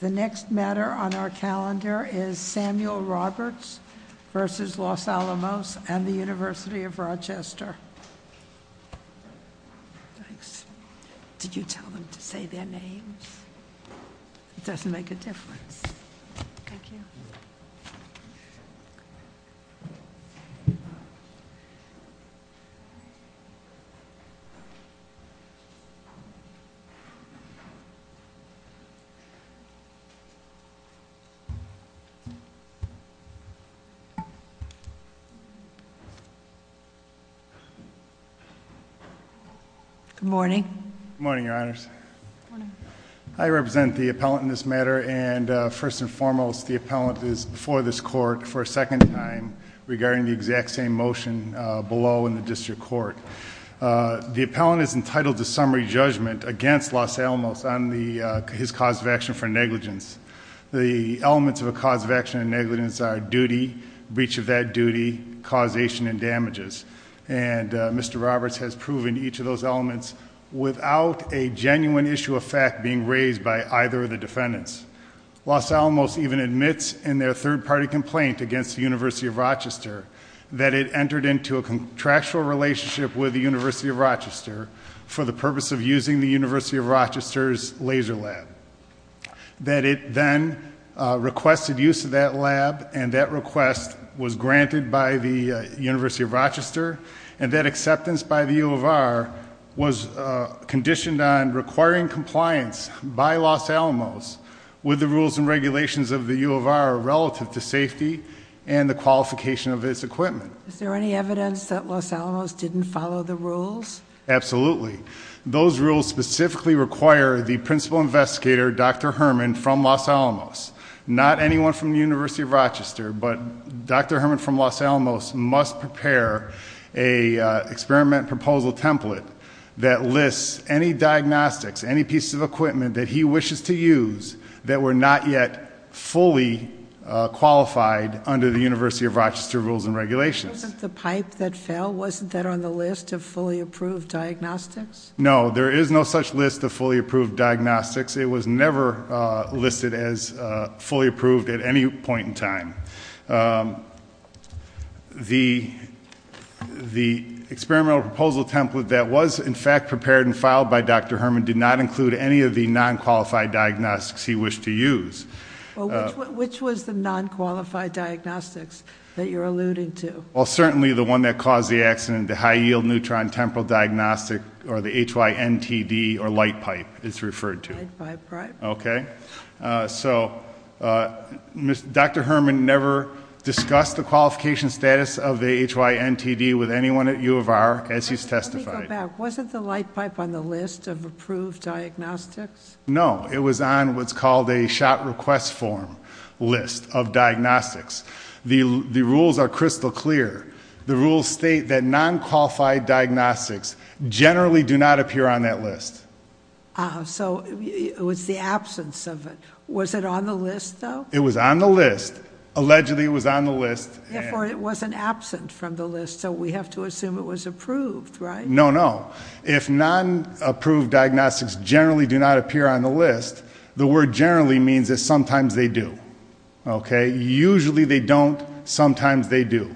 The next matter on our calendar is Samuel Roberts v. Los Alamos and the University of Rochester. Thanks. Did you tell them to say their names? It doesn't make a difference. Thank you. Good morning. Good morning, your honors. I represent the appellant in this matter and first and foremost the appellant is before this court for a second time regarding the exact same motion below in the district court. The appellant is entitled to summary judgment against Los Alamos on his cause of action for negligence. The elements of a cause of action for negligence are duty, breach of that duty, causation and damages. And Mr. Roberts has proven each of those elements without a genuine issue of fact being raised by either of the defendants. Los Alamos even admits in their third party complaint against the University of Rochester that it entered into a contractual relationship with the University of Rochester for the purpose of using the University of Rochester's laser lab. That it then requested use of that lab and that request was granted by the University of Rochester and that acceptance by the U of R was conditioned on requiring compliance by Los Alamos with the rules and regulations of the U of R relative to safety and the qualification of its equipment. Is there any evidence that Los Alamos didn't follow the rules? Absolutely. Those rules specifically require the principal investigator, Dr. Herman from Los Alamos. Not anyone from the University of Rochester, but Dr. Herman from Los Alamos must prepare a experiment proposal template that lists any diagnostics, any pieces of equipment that he wishes to use that were not yet fully qualified under the University of Rochester rules and regulations. But wasn't the pipe that fell, wasn't that on the list of fully approved diagnostics? No, there is no such list of fully approved diagnostics. It was never listed as fully approved at any point in time. The experimental proposal template that was in fact prepared and filed by Dr. Herman did not include any of the non-qualified diagnostics he wished to use. Which was the non-qualified diagnostics that you're alluding to? Well, certainly the one that caused the accident, the high yield neutron temporal diagnostic or the HYNTD or light pipe it's referred to. Light pipe, right. Okay, so Dr. Herman never discussed the qualification status of the HYNTD with anyone at U of R as he's testified. Let me go back, wasn't the light pipe on the list of approved diagnostics? No, it was on what's called a shot request form list of diagnostics. The rules are crystal clear. The rules state that non-qualified diagnostics generally do not appear on that list. So it was the absence of it. Was it on the list though? It was on the list. Allegedly it was on the list. Therefore it wasn't absent from the list, so we have to assume it was approved, right? No, no. If non-approved diagnostics generally do not appear on the list, the word generally means that sometimes they do. Okay, usually they don't, sometimes they do.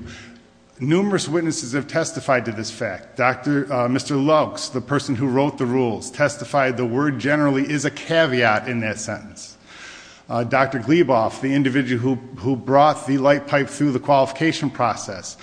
Numerous witnesses have testified to this fact. Mr. Lux, the person who wrote the rules, testified the word generally is a caveat in that sentence. Dr. Gleboff, the individual who brought the light pipe through the qualification process,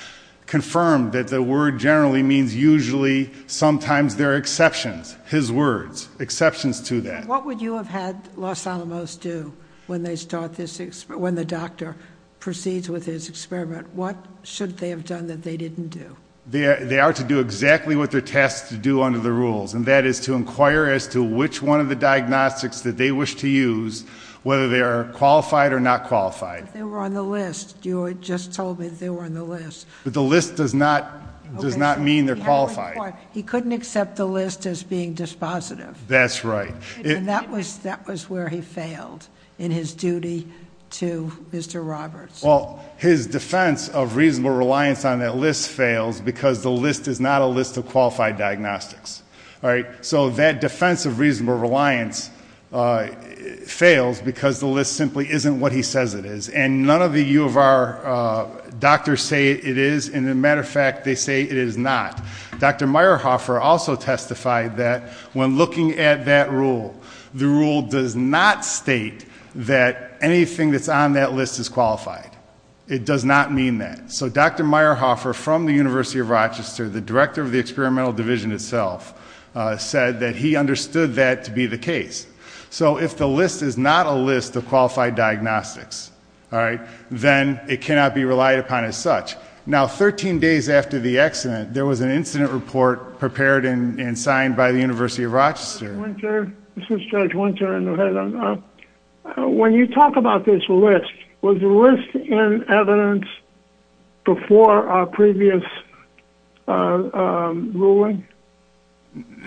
confirmed that the word generally means usually sometimes there are exceptions, his words, exceptions to that. What would you have had Los Alamos do when the doctor proceeds with his experiment? What should they have done that they didn't do? They are to do exactly what they're tasked to do under the rules. And that is to inquire as to which one of the diagnostics that they wish to use, whether they are qualified or not qualified. They were on the list, you just told me they were on the list. But the list does not mean they're qualified. He couldn't accept the list as being dispositive. That's right. And that was where he failed in his duty to Mr. Roberts. Well, his defense of reasonable reliance on that list fails because the list is not a list of qualified diagnostics, all right? So that defense of reasonable reliance fails because the list simply isn't what he says it is. And none of the U of R doctors say it is, and as a matter of fact, they say it is not. Dr. Meyerhofer also testified that when looking at that rule, the rule does not state that anything that's on that list is qualified. It does not mean that. So Dr. Meyerhofer from the University of Rochester, the director of the experimental division itself, said that he understood that to be the case. So if the list is not a list of qualified diagnostics, all right, then it cannot be relied upon as such. Now, 13 days after the accident, there was an incident report prepared and signed by the University of Rochester. This is Judge Winter in New Haven. When you talk about this list, was the list in evidence before our previous ruling?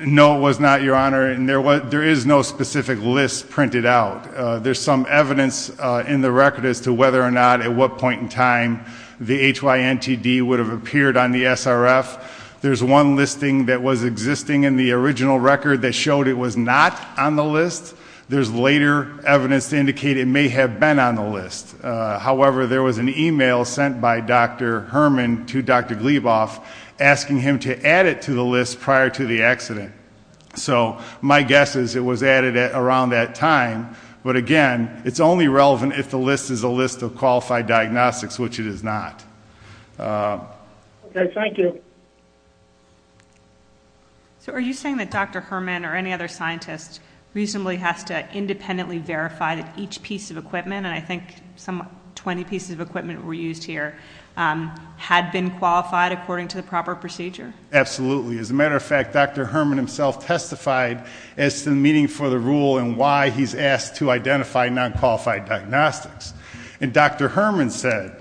No, it was not, Your Honor, and there is no specific list printed out. There's some evidence in the record as to whether or not at what point in time the HYNTD would have appeared on the SRF. There's one listing that was existing in the original record that showed it was not on the list. There's later evidence to indicate it may have been on the list. However, there was an email sent by Dr. Herman to Dr. Gleboff, asking him to add it to the list prior to the accident. So my guess is it was added around that time. But again, it's only relevant if the list is a list of qualified diagnostics, which it is not. Okay, thank you. So are you saying that Dr. Herman or any other scientist reasonably has to independently verify that each piece of equipment, and I think some 20 pieces of equipment were used here, had been qualified according to the proper procedure? Absolutely. As a matter of fact, Dr. Herman himself testified as to the meaning for the rule and why he's asked to identify non-qualified diagnostics. And Dr. Herman said,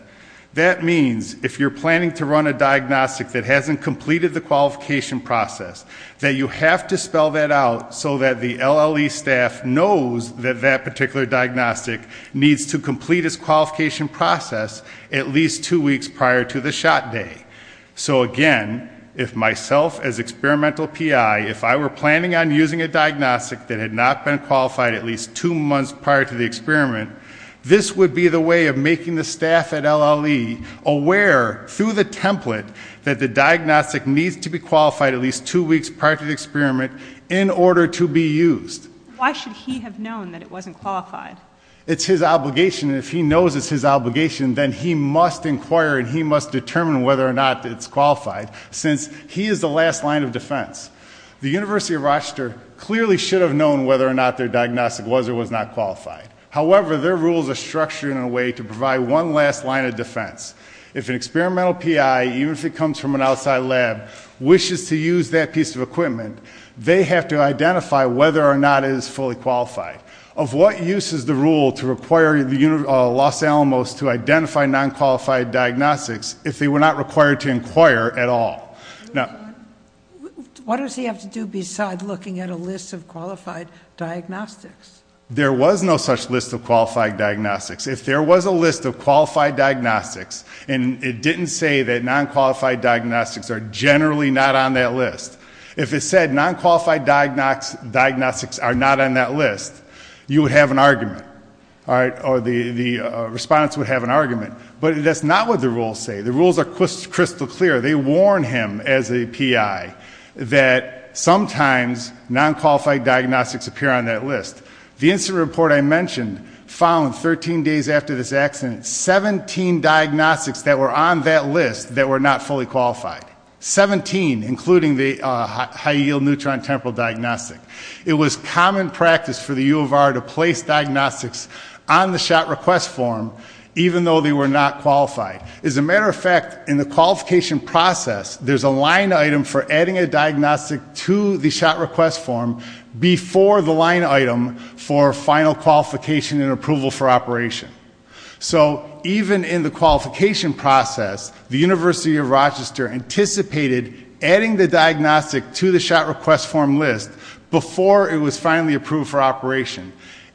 that means if you're planning to run a diagnostic that hasn't completed the qualification process, that you have to spell that out so that the LLE staff knows that that particular diagnostic needs to complete its qualification process at least two weeks prior to the shot day. So again, if myself as experimental PI, if I were planning on using a diagnostic that had not been qualified at least two months prior to the experiment, this would be the way of making the staff at LLE aware through the template that the diagnostic needs to be qualified at least two weeks prior to the experiment in order to be used. Why should he have known that it wasn't qualified? It's his obligation, and if he knows it's his obligation, then he must inquire and he must determine whether or not it's qualified, since he is the last line of defense. The University of Rochester clearly should have known whether or not their diagnostic was or was not qualified. However, their rules are structured in a way to provide one last line of defense. If an experimental PI, even if it comes from an outside lab, wishes to use that piece of equipment, they have to identify whether or not it is fully qualified. Of what use is the rule to require Los Alamos to identify non-qualified diagnostics if they were not required to inquire at all? Now- What does he have to do besides looking at a list of qualified diagnostics? There was no such list of qualified diagnostics. If there was a list of qualified diagnostics, and it didn't say that non-qualified diagnostics are generally not on that list. If it said non-qualified diagnostics are not on that list, you would have an argument. All right, or the respondents would have an argument. But that's not what the rules say. The rules are crystal clear. They warn him as a PI that sometimes non-qualified diagnostics appear on that list. The incident report I mentioned found 13 days after this accident, 17 diagnostics that were on that list that were not fully qualified. 17, including the high yield neutron temporal diagnostic. It was common practice for the U of R to place diagnostics on the shot request form, even though they were not qualified. As a matter of fact, in the qualification process, there's a line item for adding a diagnostic to the shot request form before the line item for final qualification and approval for operation. So even in the qualification process, the University of Rochester anticipated adding the diagnostic to the shot request form list before it was finally approved for operation.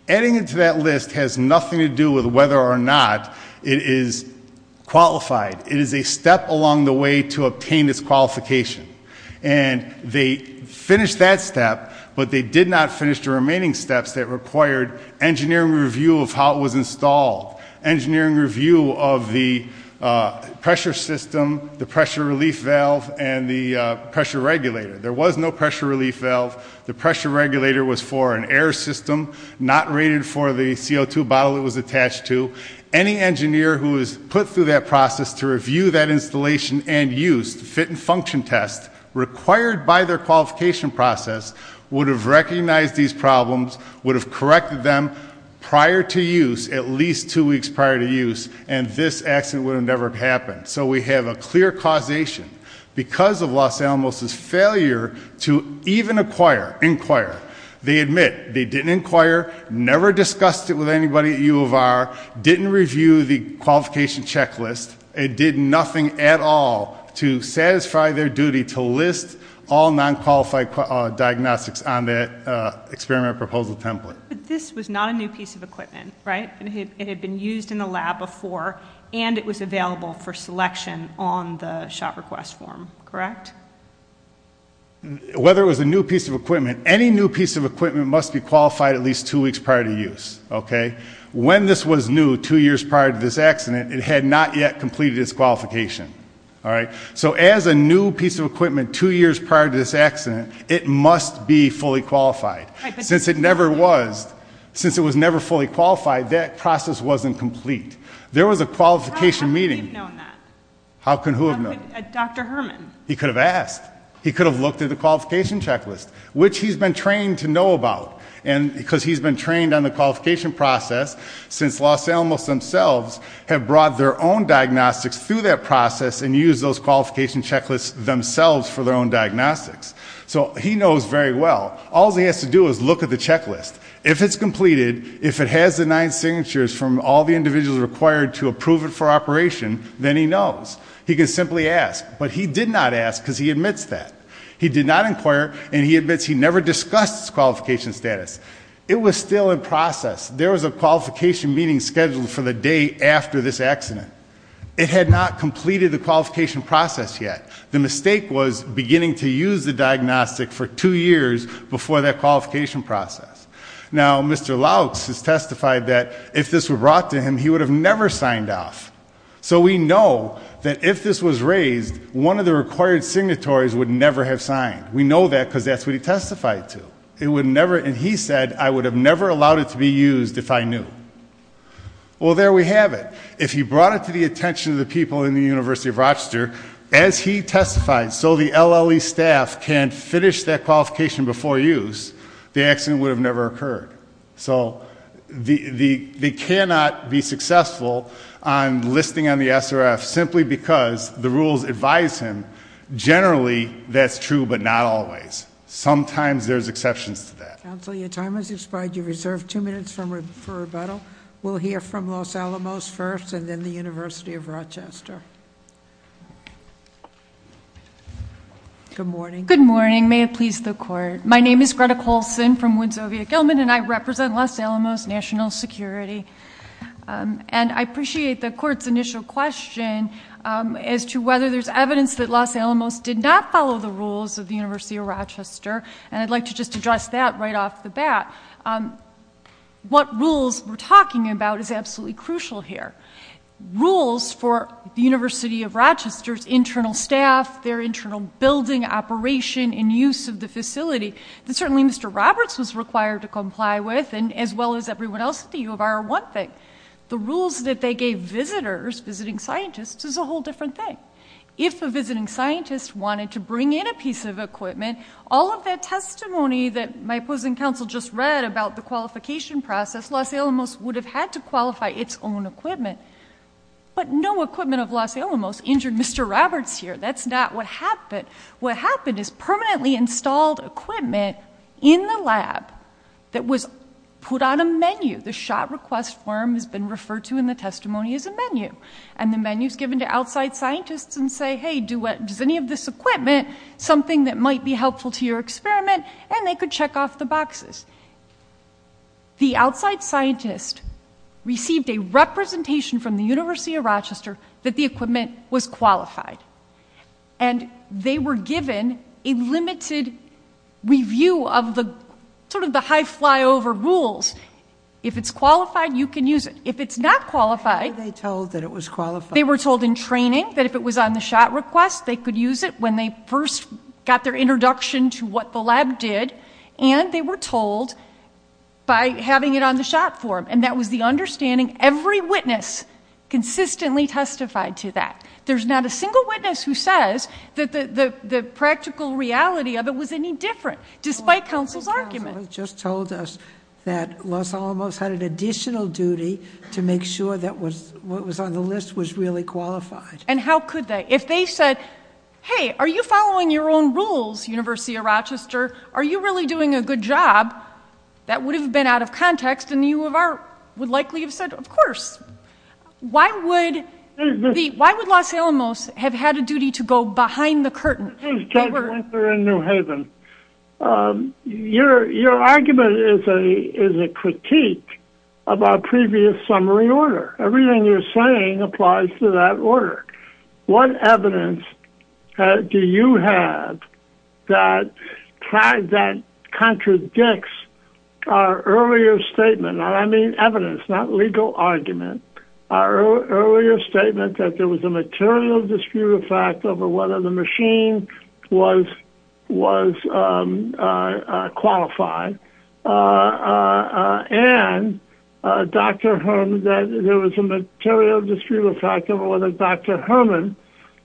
Adding it to that list has nothing to do with whether or not it is qualified. It is a step along the way to obtain this qualification. And they finished that step, but they did not finish the remaining steps that required engineering review of how it was installed, engineering review of the pressure system, the pressure relief valve, and the pressure regulator. There was no pressure relief valve. The pressure regulator was for an air system, not rated for the CO2 bottle it was attached to. Any engineer who was put through that process to review that installation and use the fit and function test required by their qualification process would have recognized these problems, would have corrected them prior to use, at least two weeks prior to use, and this accident would have never happened. So we have a clear causation because of Los Alamos' failure to even inquire. They admit they didn't inquire, never discussed it with anybody at U of R, didn't review the qualification checklist, it did nothing at all to satisfy their duty to list all non-qualified diagnostics on that experiment proposal template. But this was not a new piece of equipment, right? It had been used in the lab before, and it was available for selection on the shop request form, correct? Whether it was a new piece of equipment, any new piece of equipment must be qualified at least two weeks prior to use, okay? When this was new, two years prior to this accident, it had not yet completed its qualification, all right? So as a new piece of equipment two years prior to this accident, it must be fully qualified. Since it never was, since it was never fully qualified, that process wasn't complete. There was a qualification meeting. How could he have known that? How can who have known? Dr. Herman. He could have asked. He could have looked at the qualification checklist, which he's been trained to know about. And because he's been trained on the qualification process, since Los Alamos themselves have brought their own diagnostics through that process and used those qualification checklists themselves for their own diagnostics. So he knows very well. All he has to do is look at the checklist. If it's completed, if it has the nine signatures from all the individuals required to approve it for operation, then he knows. He can simply ask, but he did not ask because he admits that. He did not inquire, and he admits he never discussed his qualification status. It was still in process. There was a qualification meeting scheduled for the day after this accident. It had not completed the qualification process yet. The mistake was beginning to use the diagnostic for two years before that qualification process. Now, Mr. Louks has testified that if this were brought to him, he would have never signed off. So we know that if this was raised, one of the required signatories would never have signed. We know that because that's what he testified to. It would never, and he said, I would have never allowed it to be used if I knew. Well, there we have it. If he brought it to the attention of the people in the University of Rochester, as he testified, so the LLE staff can finish that qualification before use, the accident would have never occurred. So they cannot be successful on listing on the SRF simply because the rules advise him. Generally, that's true, but not always. Sometimes there's exceptions to that. Counsel, your time has expired. You're reserved two minutes for rebuttal. We'll hear from Los Alamos first, and then the University of Rochester. Good morning. Good morning. May it please the court. My name is Greta Colson from Winslow, Vietnam, and I represent Los Alamos National Security. And I appreciate the court's initial question as to whether there's evidence that Los Alamos did not follow the rules of the University of Rochester. And I'd like to just address that right off the bat. What rules we're talking about is absolutely crucial here. Rules for the University of Rochester's internal staff, their internal building operation and use of the facility that certainly Mr. Roberts was required to comply with, and as well as everyone else at the U of R, are one thing. The rules that they gave visitors, visiting scientists, is a whole different thing. If a visiting scientist wanted to bring in a piece of equipment, all of that testimony that my opposing counsel just read about the qualification process, Los Alamos would have had to qualify its own equipment. But no equipment of Los Alamos injured Mr. Roberts here. That's not what happened. What happened is permanently installed equipment in the lab that was put on a menu. The shot request form has been referred to in the testimony as a menu. And the menu's given to outside scientists and say, hey, does any of this equipment something that might be helpful to your experiment, and they could check off the boxes. The outside scientist received a representation from the University of Rochester that the equipment was qualified. And they were given a limited review of the sort of the high flyover rules. If it's qualified, you can use it. If it's not qualified- Why were they told that it was qualified? They were told in training that if it was on the shot request, they could use it when they first got their introduction to what the lab did. And they were told by having it on the shot form, and that was the understanding. Every witness consistently testified to that. There's not a single witness who says that the practical reality of it was any different, despite counsel's argument. They just told us that Los Alamos had an additional duty to make sure that what was on the list was really qualified. And how could they? If they said, hey, are you following your own rules, University of Rochester? Are you really doing a good job? That would have been out of context, and the U of R would likely have said, of course. Why would Los Alamos have had a duty to go behind the curtain? This is Ted Winther in New Haven. Your argument is a critique of our previous summary order. Everything you're saying applies to that order. What evidence do you have that contradicts our earlier statement? And I mean evidence, not legal argument. Our earlier statement that there was a material dispute of fact over whether the machine was qualified. And, Dr. Herman, that there was a material dispute of fact over whether Dr. Herman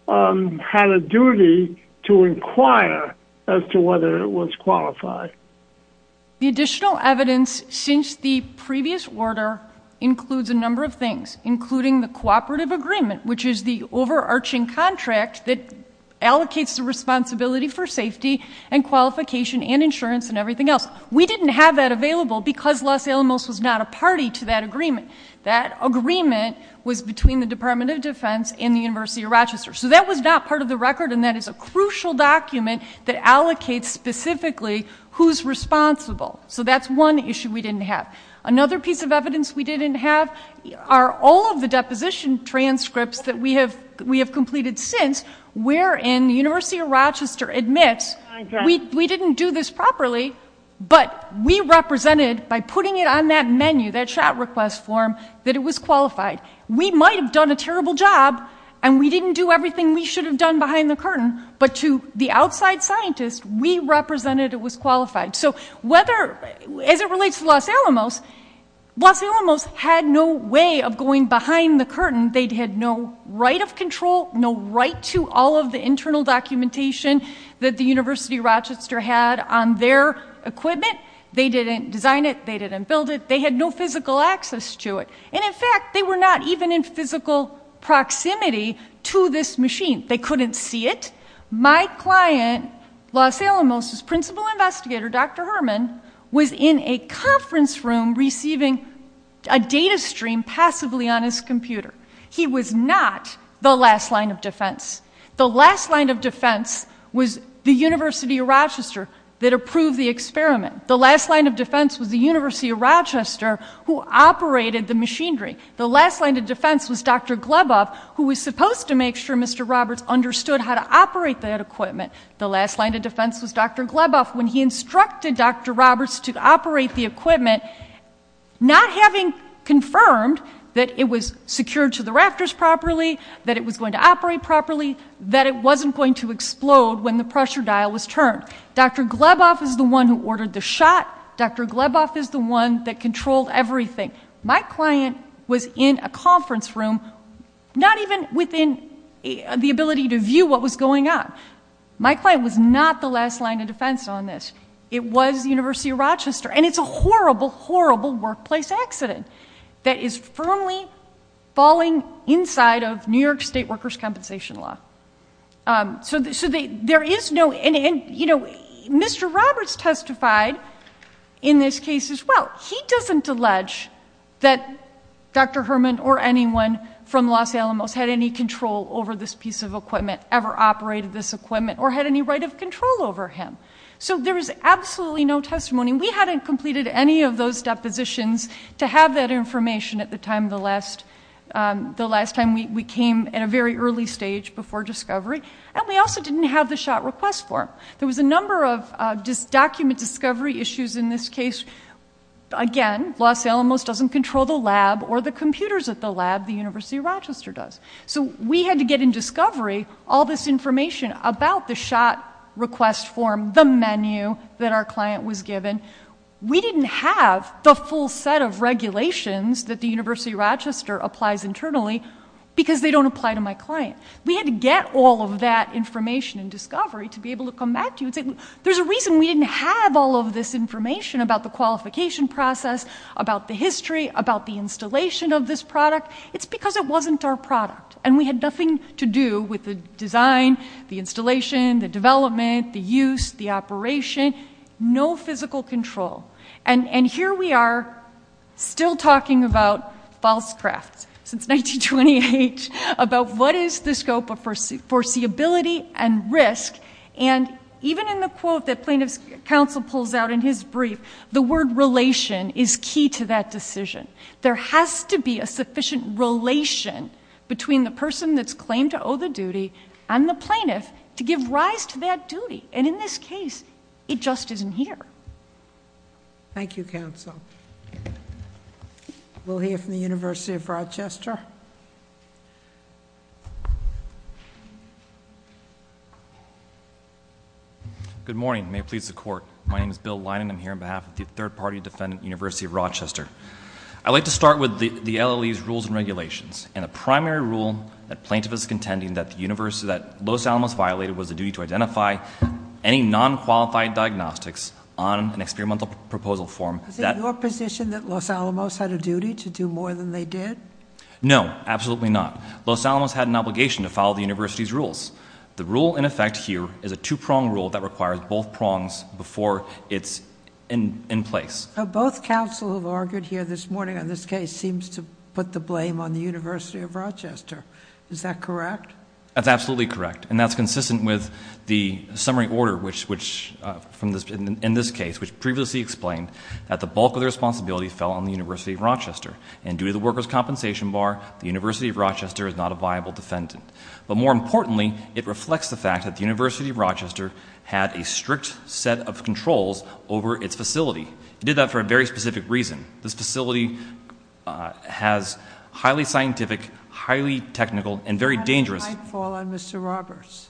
had a duty to inquire as to whether it was qualified. The additional evidence since the previous order includes a number of things. Including the cooperative agreement, which is the overarching contract that allocates the responsibility for safety and qualification and insurance and everything else. We didn't have that available because Los Alamos was not a party to that agreement. That agreement was between the Department of Defense and the University of Rochester. So that was not part of the record and that is a crucial document that allocates specifically who's responsible. So that's one issue we didn't have. Another piece of evidence we didn't have are all of the deposition transcripts that we have completed since. Wherein the University of Rochester admits we didn't do this properly, but we represented by putting it on that menu, that shot request form, that it was qualified. We might have done a terrible job and we didn't do everything we should have done behind the curtain. But to the outside scientist, we represented it was qualified. So as it relates to Los Alamos, Los Alamos had no way of going behind the curtain. They had no right of control, no right to all of the internal documentation that the University of Rochester had on their equipment. They didn't design it, they didn't build it, they had no physical access to it. And in fact, they were not even in physical proximity to this machine. They couldn't see it. My client, Los Alamos' principal investigator, Dr. Herman, was in a conference room receiving a data stream passively on his computer. He was not the last line of defense. The last line of defense was the University of Rochester that approved the experiment. The last line of defense was the University of Rochester who operated the machinery. The last line of defense was Dr. Gleboff, who was supposed to make sure Mr. Roberts understood how to operate that equipment. The last line of defense was Dr. Gleboff when he instructed Dr. Roberts to operate the equipment, not having confirmed that it was secured to the rafters properly, that it was going to operate properly, that it wasn't going to explode when the pressure dial was turned. Dr. Gleboff is the one who ordered the shot. Dr. Gleboff is the one that controlled everything. My client was in a conference room, not even within the ability to view what was going on. My client was not the last line of defense on this. It was the University of Rochester, and it's a horrible, horrible workplace accident that is firmly falling inside of New York state workers' compensation law. So there is no, and you know, Mr. Roberts testified in this case as well. He doesn't allege that Dr. Herman or anyone from Los Alamos had any control over this piece of equipment, ever operated this equipment, or had any right of control over him. So there is absolutely no testimony. We hadn't completed any of those depositions to have that information at the time the last, the last time we came at a very early stage before discovery, and we also didn't have the shot request form. There was a number of document discovery issues in this case. Again, Los Alamos doesn't control the lab or the computers at the lab, the University of Rochester does. So we had to get in discovery all this information about the shot request form, the menu that our client was given. We didn't have the full set of regulations that the University of Rochester applies internally, because they don't apply to my client. We had to get all of that information in discovery to be able to come back to you and say, there's a reason we didn't have all of this information about the qualification process, about the history, about the installation of this product, it's because it wasn't our product. And we had nothing to do with the design, the installation, the development, the use, the operation. No physical control. And here we are, still talking about false crafts since 1928 about what is the scope of foreseeability and risk. And even in the quote that plaintiff's counsel pulls out in his brief, the word relation is key to that decision. There has to be a sufficient relation between the person that's claimed to owe the duty and the plaintiff to give rise to that duty. And in this case, it just isn't here. Thank you, counsel. We'll hear from the University of Rochester. Good morning, may it please the court. My name is Bill Linen, I'm here on behalf of the third party defendant, University of Rochester. I'd like to start with the LLE's rules and regulations. And the primary rule that plaintiff is contending that Los Alamos violated was the duty to identify any non-qualified diagnostics on an experimental proposal form. Is it your position that Los Alamos had a duty to do more than they did? No, absolutely not. Los Alamos had an obligation to follow the university's rules. The rule in effect here is a two prong rule that requires both prongs before it's in place. Both counsel have argued here this morning on this case seems to put the blame on the University of Rochester. Is that correct? That's absolutely correct. And that's consistent with the summary order in this case, which previously explained that the bulk of the responsibility fell on the University of Rochester. And due to the workers' compensation bar, the University of Rochester is not a viable defendant. But more importantly, it reflects the fact that the University of Rochester had a strict set of controls over its facility. It did that for a very specific reason. This facility has highly scientific, highly technical, and very dangerous- How did the pipe fall on Mr. Roberts?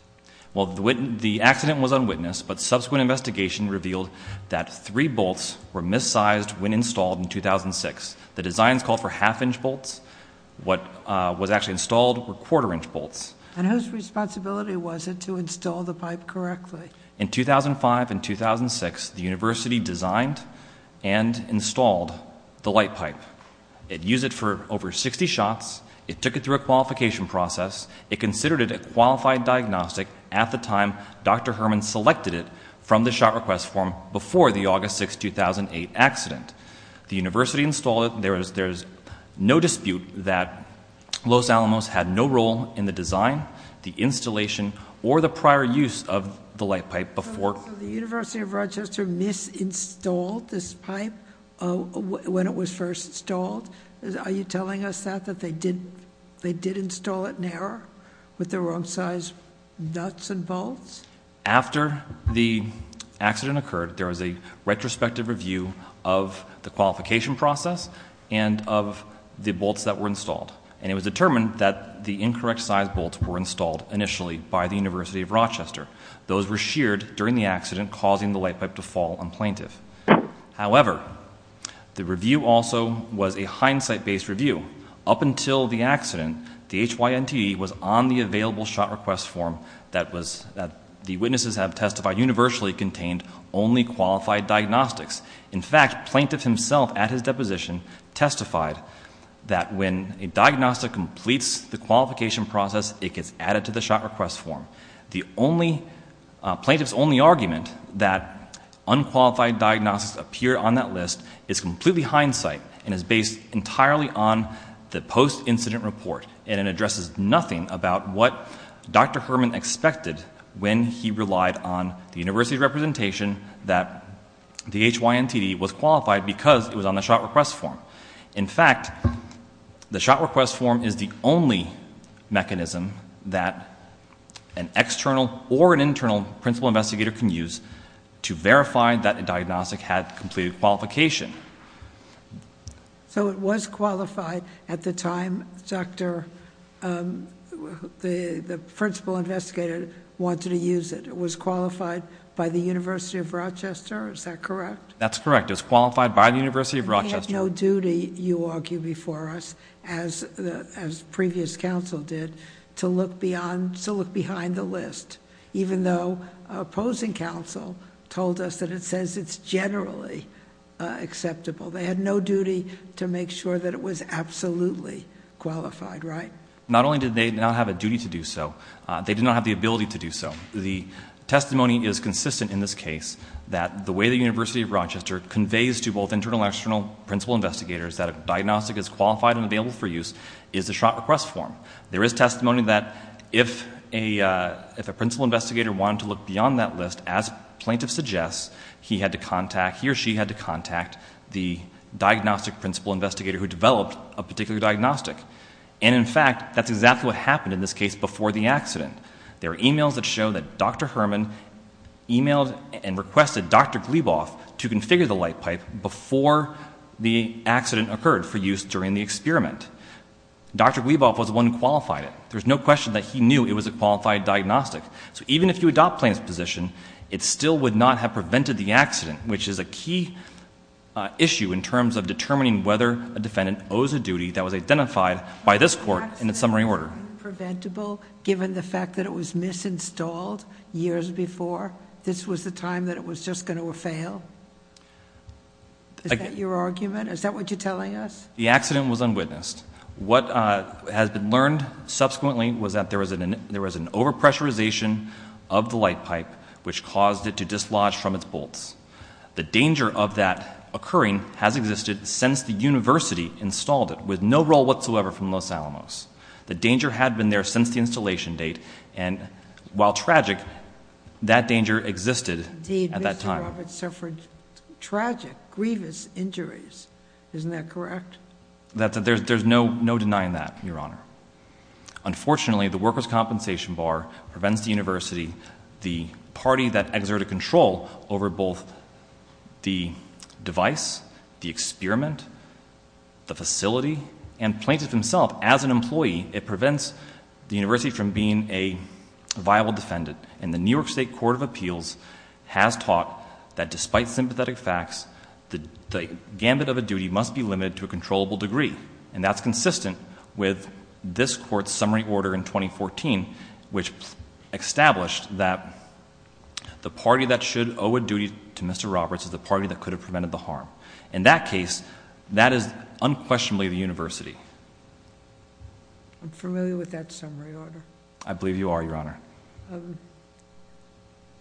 Well, the accident was unwitnessed, but subsequent investigation revealed that three bolts were mis-sized when installed in 2006. The designs called for half inch bolts. What was actually installed were quarter inch bolts. And whose responsibility was it to install the pipe correctly? In 2005 and 2006, the university designed and installed the light pipe. It used it for over 60 shots. It took it through a qualification process. It considered it a qualified diagnostic at the time Dr. Herman selected it from the shot request form before the August 6, 2008 accident. The university installed it. There is no dispute that Los Alamos had no role in the design, the installation, or the prior use of the light pipe before- So the University of Rochester mis-installed this pipe when it was first installed? Are you telling us that, that they did install it in error with the wrong size nuts and bolts? After the accident occurred, there was a retrospective review of the qualification process and of the bolts that were installed. And it was determined that the incorrect size bolts were installed initially by the University of Rochester. Those were sheared during the accident, causing the light pipe to fall on plaintiff. However, the review also was a hindsight based review. Up until the accident, the HYNT was on the available shot request form that was, that the witnesses have testified universally contained only qualified diagnostics. In fact, plaintiff himself at his deposition testified that when a diagnostic completes the qualification process, it gets added to the shot request form. The only, plaintiff's only argument that unqualified diagnostics appear on that list is completely hindsight and is based entirely on the post-incident report. And it addresses nothing about what Dr. Herman expected when he relied on the university representation that the HYNT was qualified because it was on the shot request form. In fact, the shot request form is the only mechanism that an external or an internal principal investigator can use to verify that a diagnostic had completed qualification. So it was qualified at the time Dr., the principal investigator wanted to use it. It was qualified by the University of Rochester, is that correct? That's correct, it was qualified by the University of Rochester. They had no duty, you argue before us, as previous council did, to look beyond, to look behind the list. Even though opposing council told us that it says it's generally acceptable. They had no duty to make sure that it was absolutely qualified, right? Not only did they not have a duty to do so, they did not have the ability to do so. The testimony is consistent in this case that the way the University of Rochester conveys to both internal and external principal investigators that a diagnostic is qualified and available for use is a shot request form. There is testimony that if a principal investigator wanted to look beyond that list, as plaintiff suggests, he or she had to contact the diagnostic principal investigator who developed a particular diagnostic. And in fact, that's exactly what happened in this case before the accident. There are emails that show that Dr. Herman emailed and requested Dr. Gleboff to configure the light pipe before the accident occurred for use during the experiment. Dr. Gleboff was the one who qualified it. There's no question that he knew it was a qualified diagnostic. So even if you adopt plaintiff's position, it still would not have prevented the accident, which is a key issue in terms of determining whether a defendant owes a duty that was identified by this court in its summary order. Preventable, given the fact that it was misinstalled years before. This was the time that it was just going to fail. Is that your argument? Is that what you're telling us? The accident was unwitnessed. What has been learned subsequently was that there was an over pressurization of the light pipe, which caused it to dislodge from its bolts. The danger of that occurring has existed since the university installed it, with no roll whatsoever from Los Alamos. The danger had been there since the installation date, and while tragic, that danger existed at that time. Indeed, Mr. Roberts suffered tragic, grievous injuries. Isn't that correct? There's no denying that, Your Honor. Unfortunately, the workers' compensation bar prevents the university, the party that exerted control over both the device, the experiment, the facility, and plaintiff himself, as an employee. It prevents the university from being a viable defendant. And the New York State Court of Appeals has taught that despite sympathetic facts, the gambit of a duty must be limited to a controllable degree. And that's consistent with this court's summary order in 2014, which established that the party that should owe a duty to Mr. Roberts is the party that could have prevented the harm. In that case, that is unquestionably the university. I'm familiar with that summary order. I believe you are, Your Honor.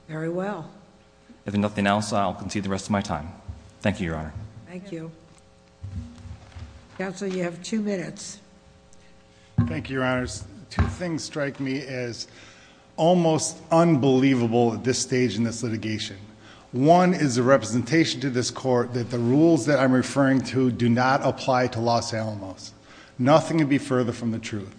Very well. If nothing else, I'll concede the rest of my time. Thank you, Your Honor. Counsel, you have two minutes. Thank you, Your Honors. Two things strike me as almost unbelievable at this stage in this litigation. One is the representation to this court that the rules that I'm referring to do not apply to Los Alamos. Nothing could be further from the truth.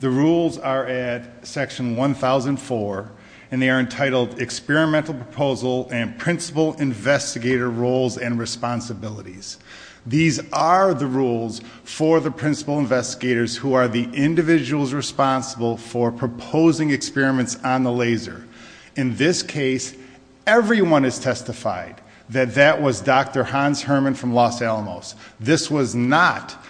The rules are at section 1004, and they are entitled Experimental Proposal and Principal Investigator Roles and Responsibilities. These are the rules for the principal investigators who are the individuals responsible for proposing experiments on the laser. In this case, everyone has testified that that was Dr. Hans Herman from Los Alamos. This was not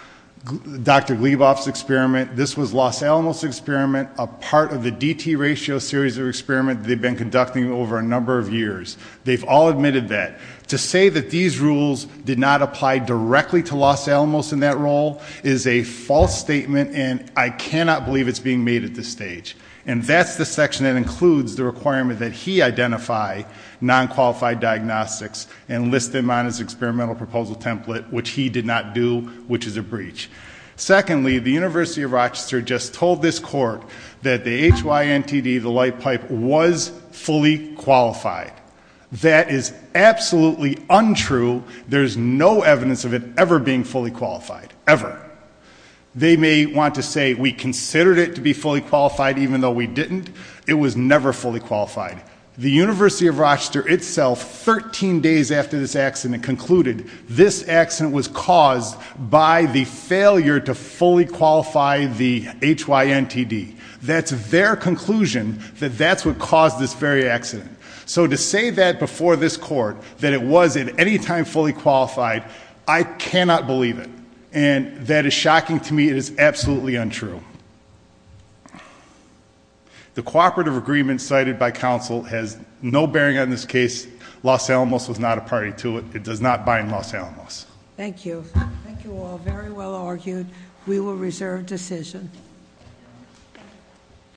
Dr. Gleboff's experiment. This was Los Alamos' experiment, a part of the DT ratio series of experiment they've been conducting over a number of years. They've all admitted that. To say that these rules did not apply directly to Los Alamos in that role is a false statement, and I cannot believe it's being made at this stage. And that's the section that includes the requirement that he identify non-qualified diagnostics and list them on his experimental proposal template, which he did not do, which is a breach. Secondly, the University of Rochester just told this court that the HYNTD, the light pipe, was fully qualified. That is absolutely untrue. There's no evidence of it ever being fully qualified, ever. They may want to say we considered it to be fully qualified even though we didn't. It was never fully qualified. The University of Rochester itself, 13 days after this accident concluded, this accident was caused by the failure to fully qualify the HYNTD. That's their conclusion, that that's what caused this very accident. So to say that before this court, that it was at any time fully qualified, I cannot believe it. And that is shocking to me, it is absolutely untrue. The cooperative agreement cited by counsel has no bearing on this case. Los Alamos was not a party to it. It does not bind Los Alamos. Thank you. Thank you all, very well argued. We will reserve decision.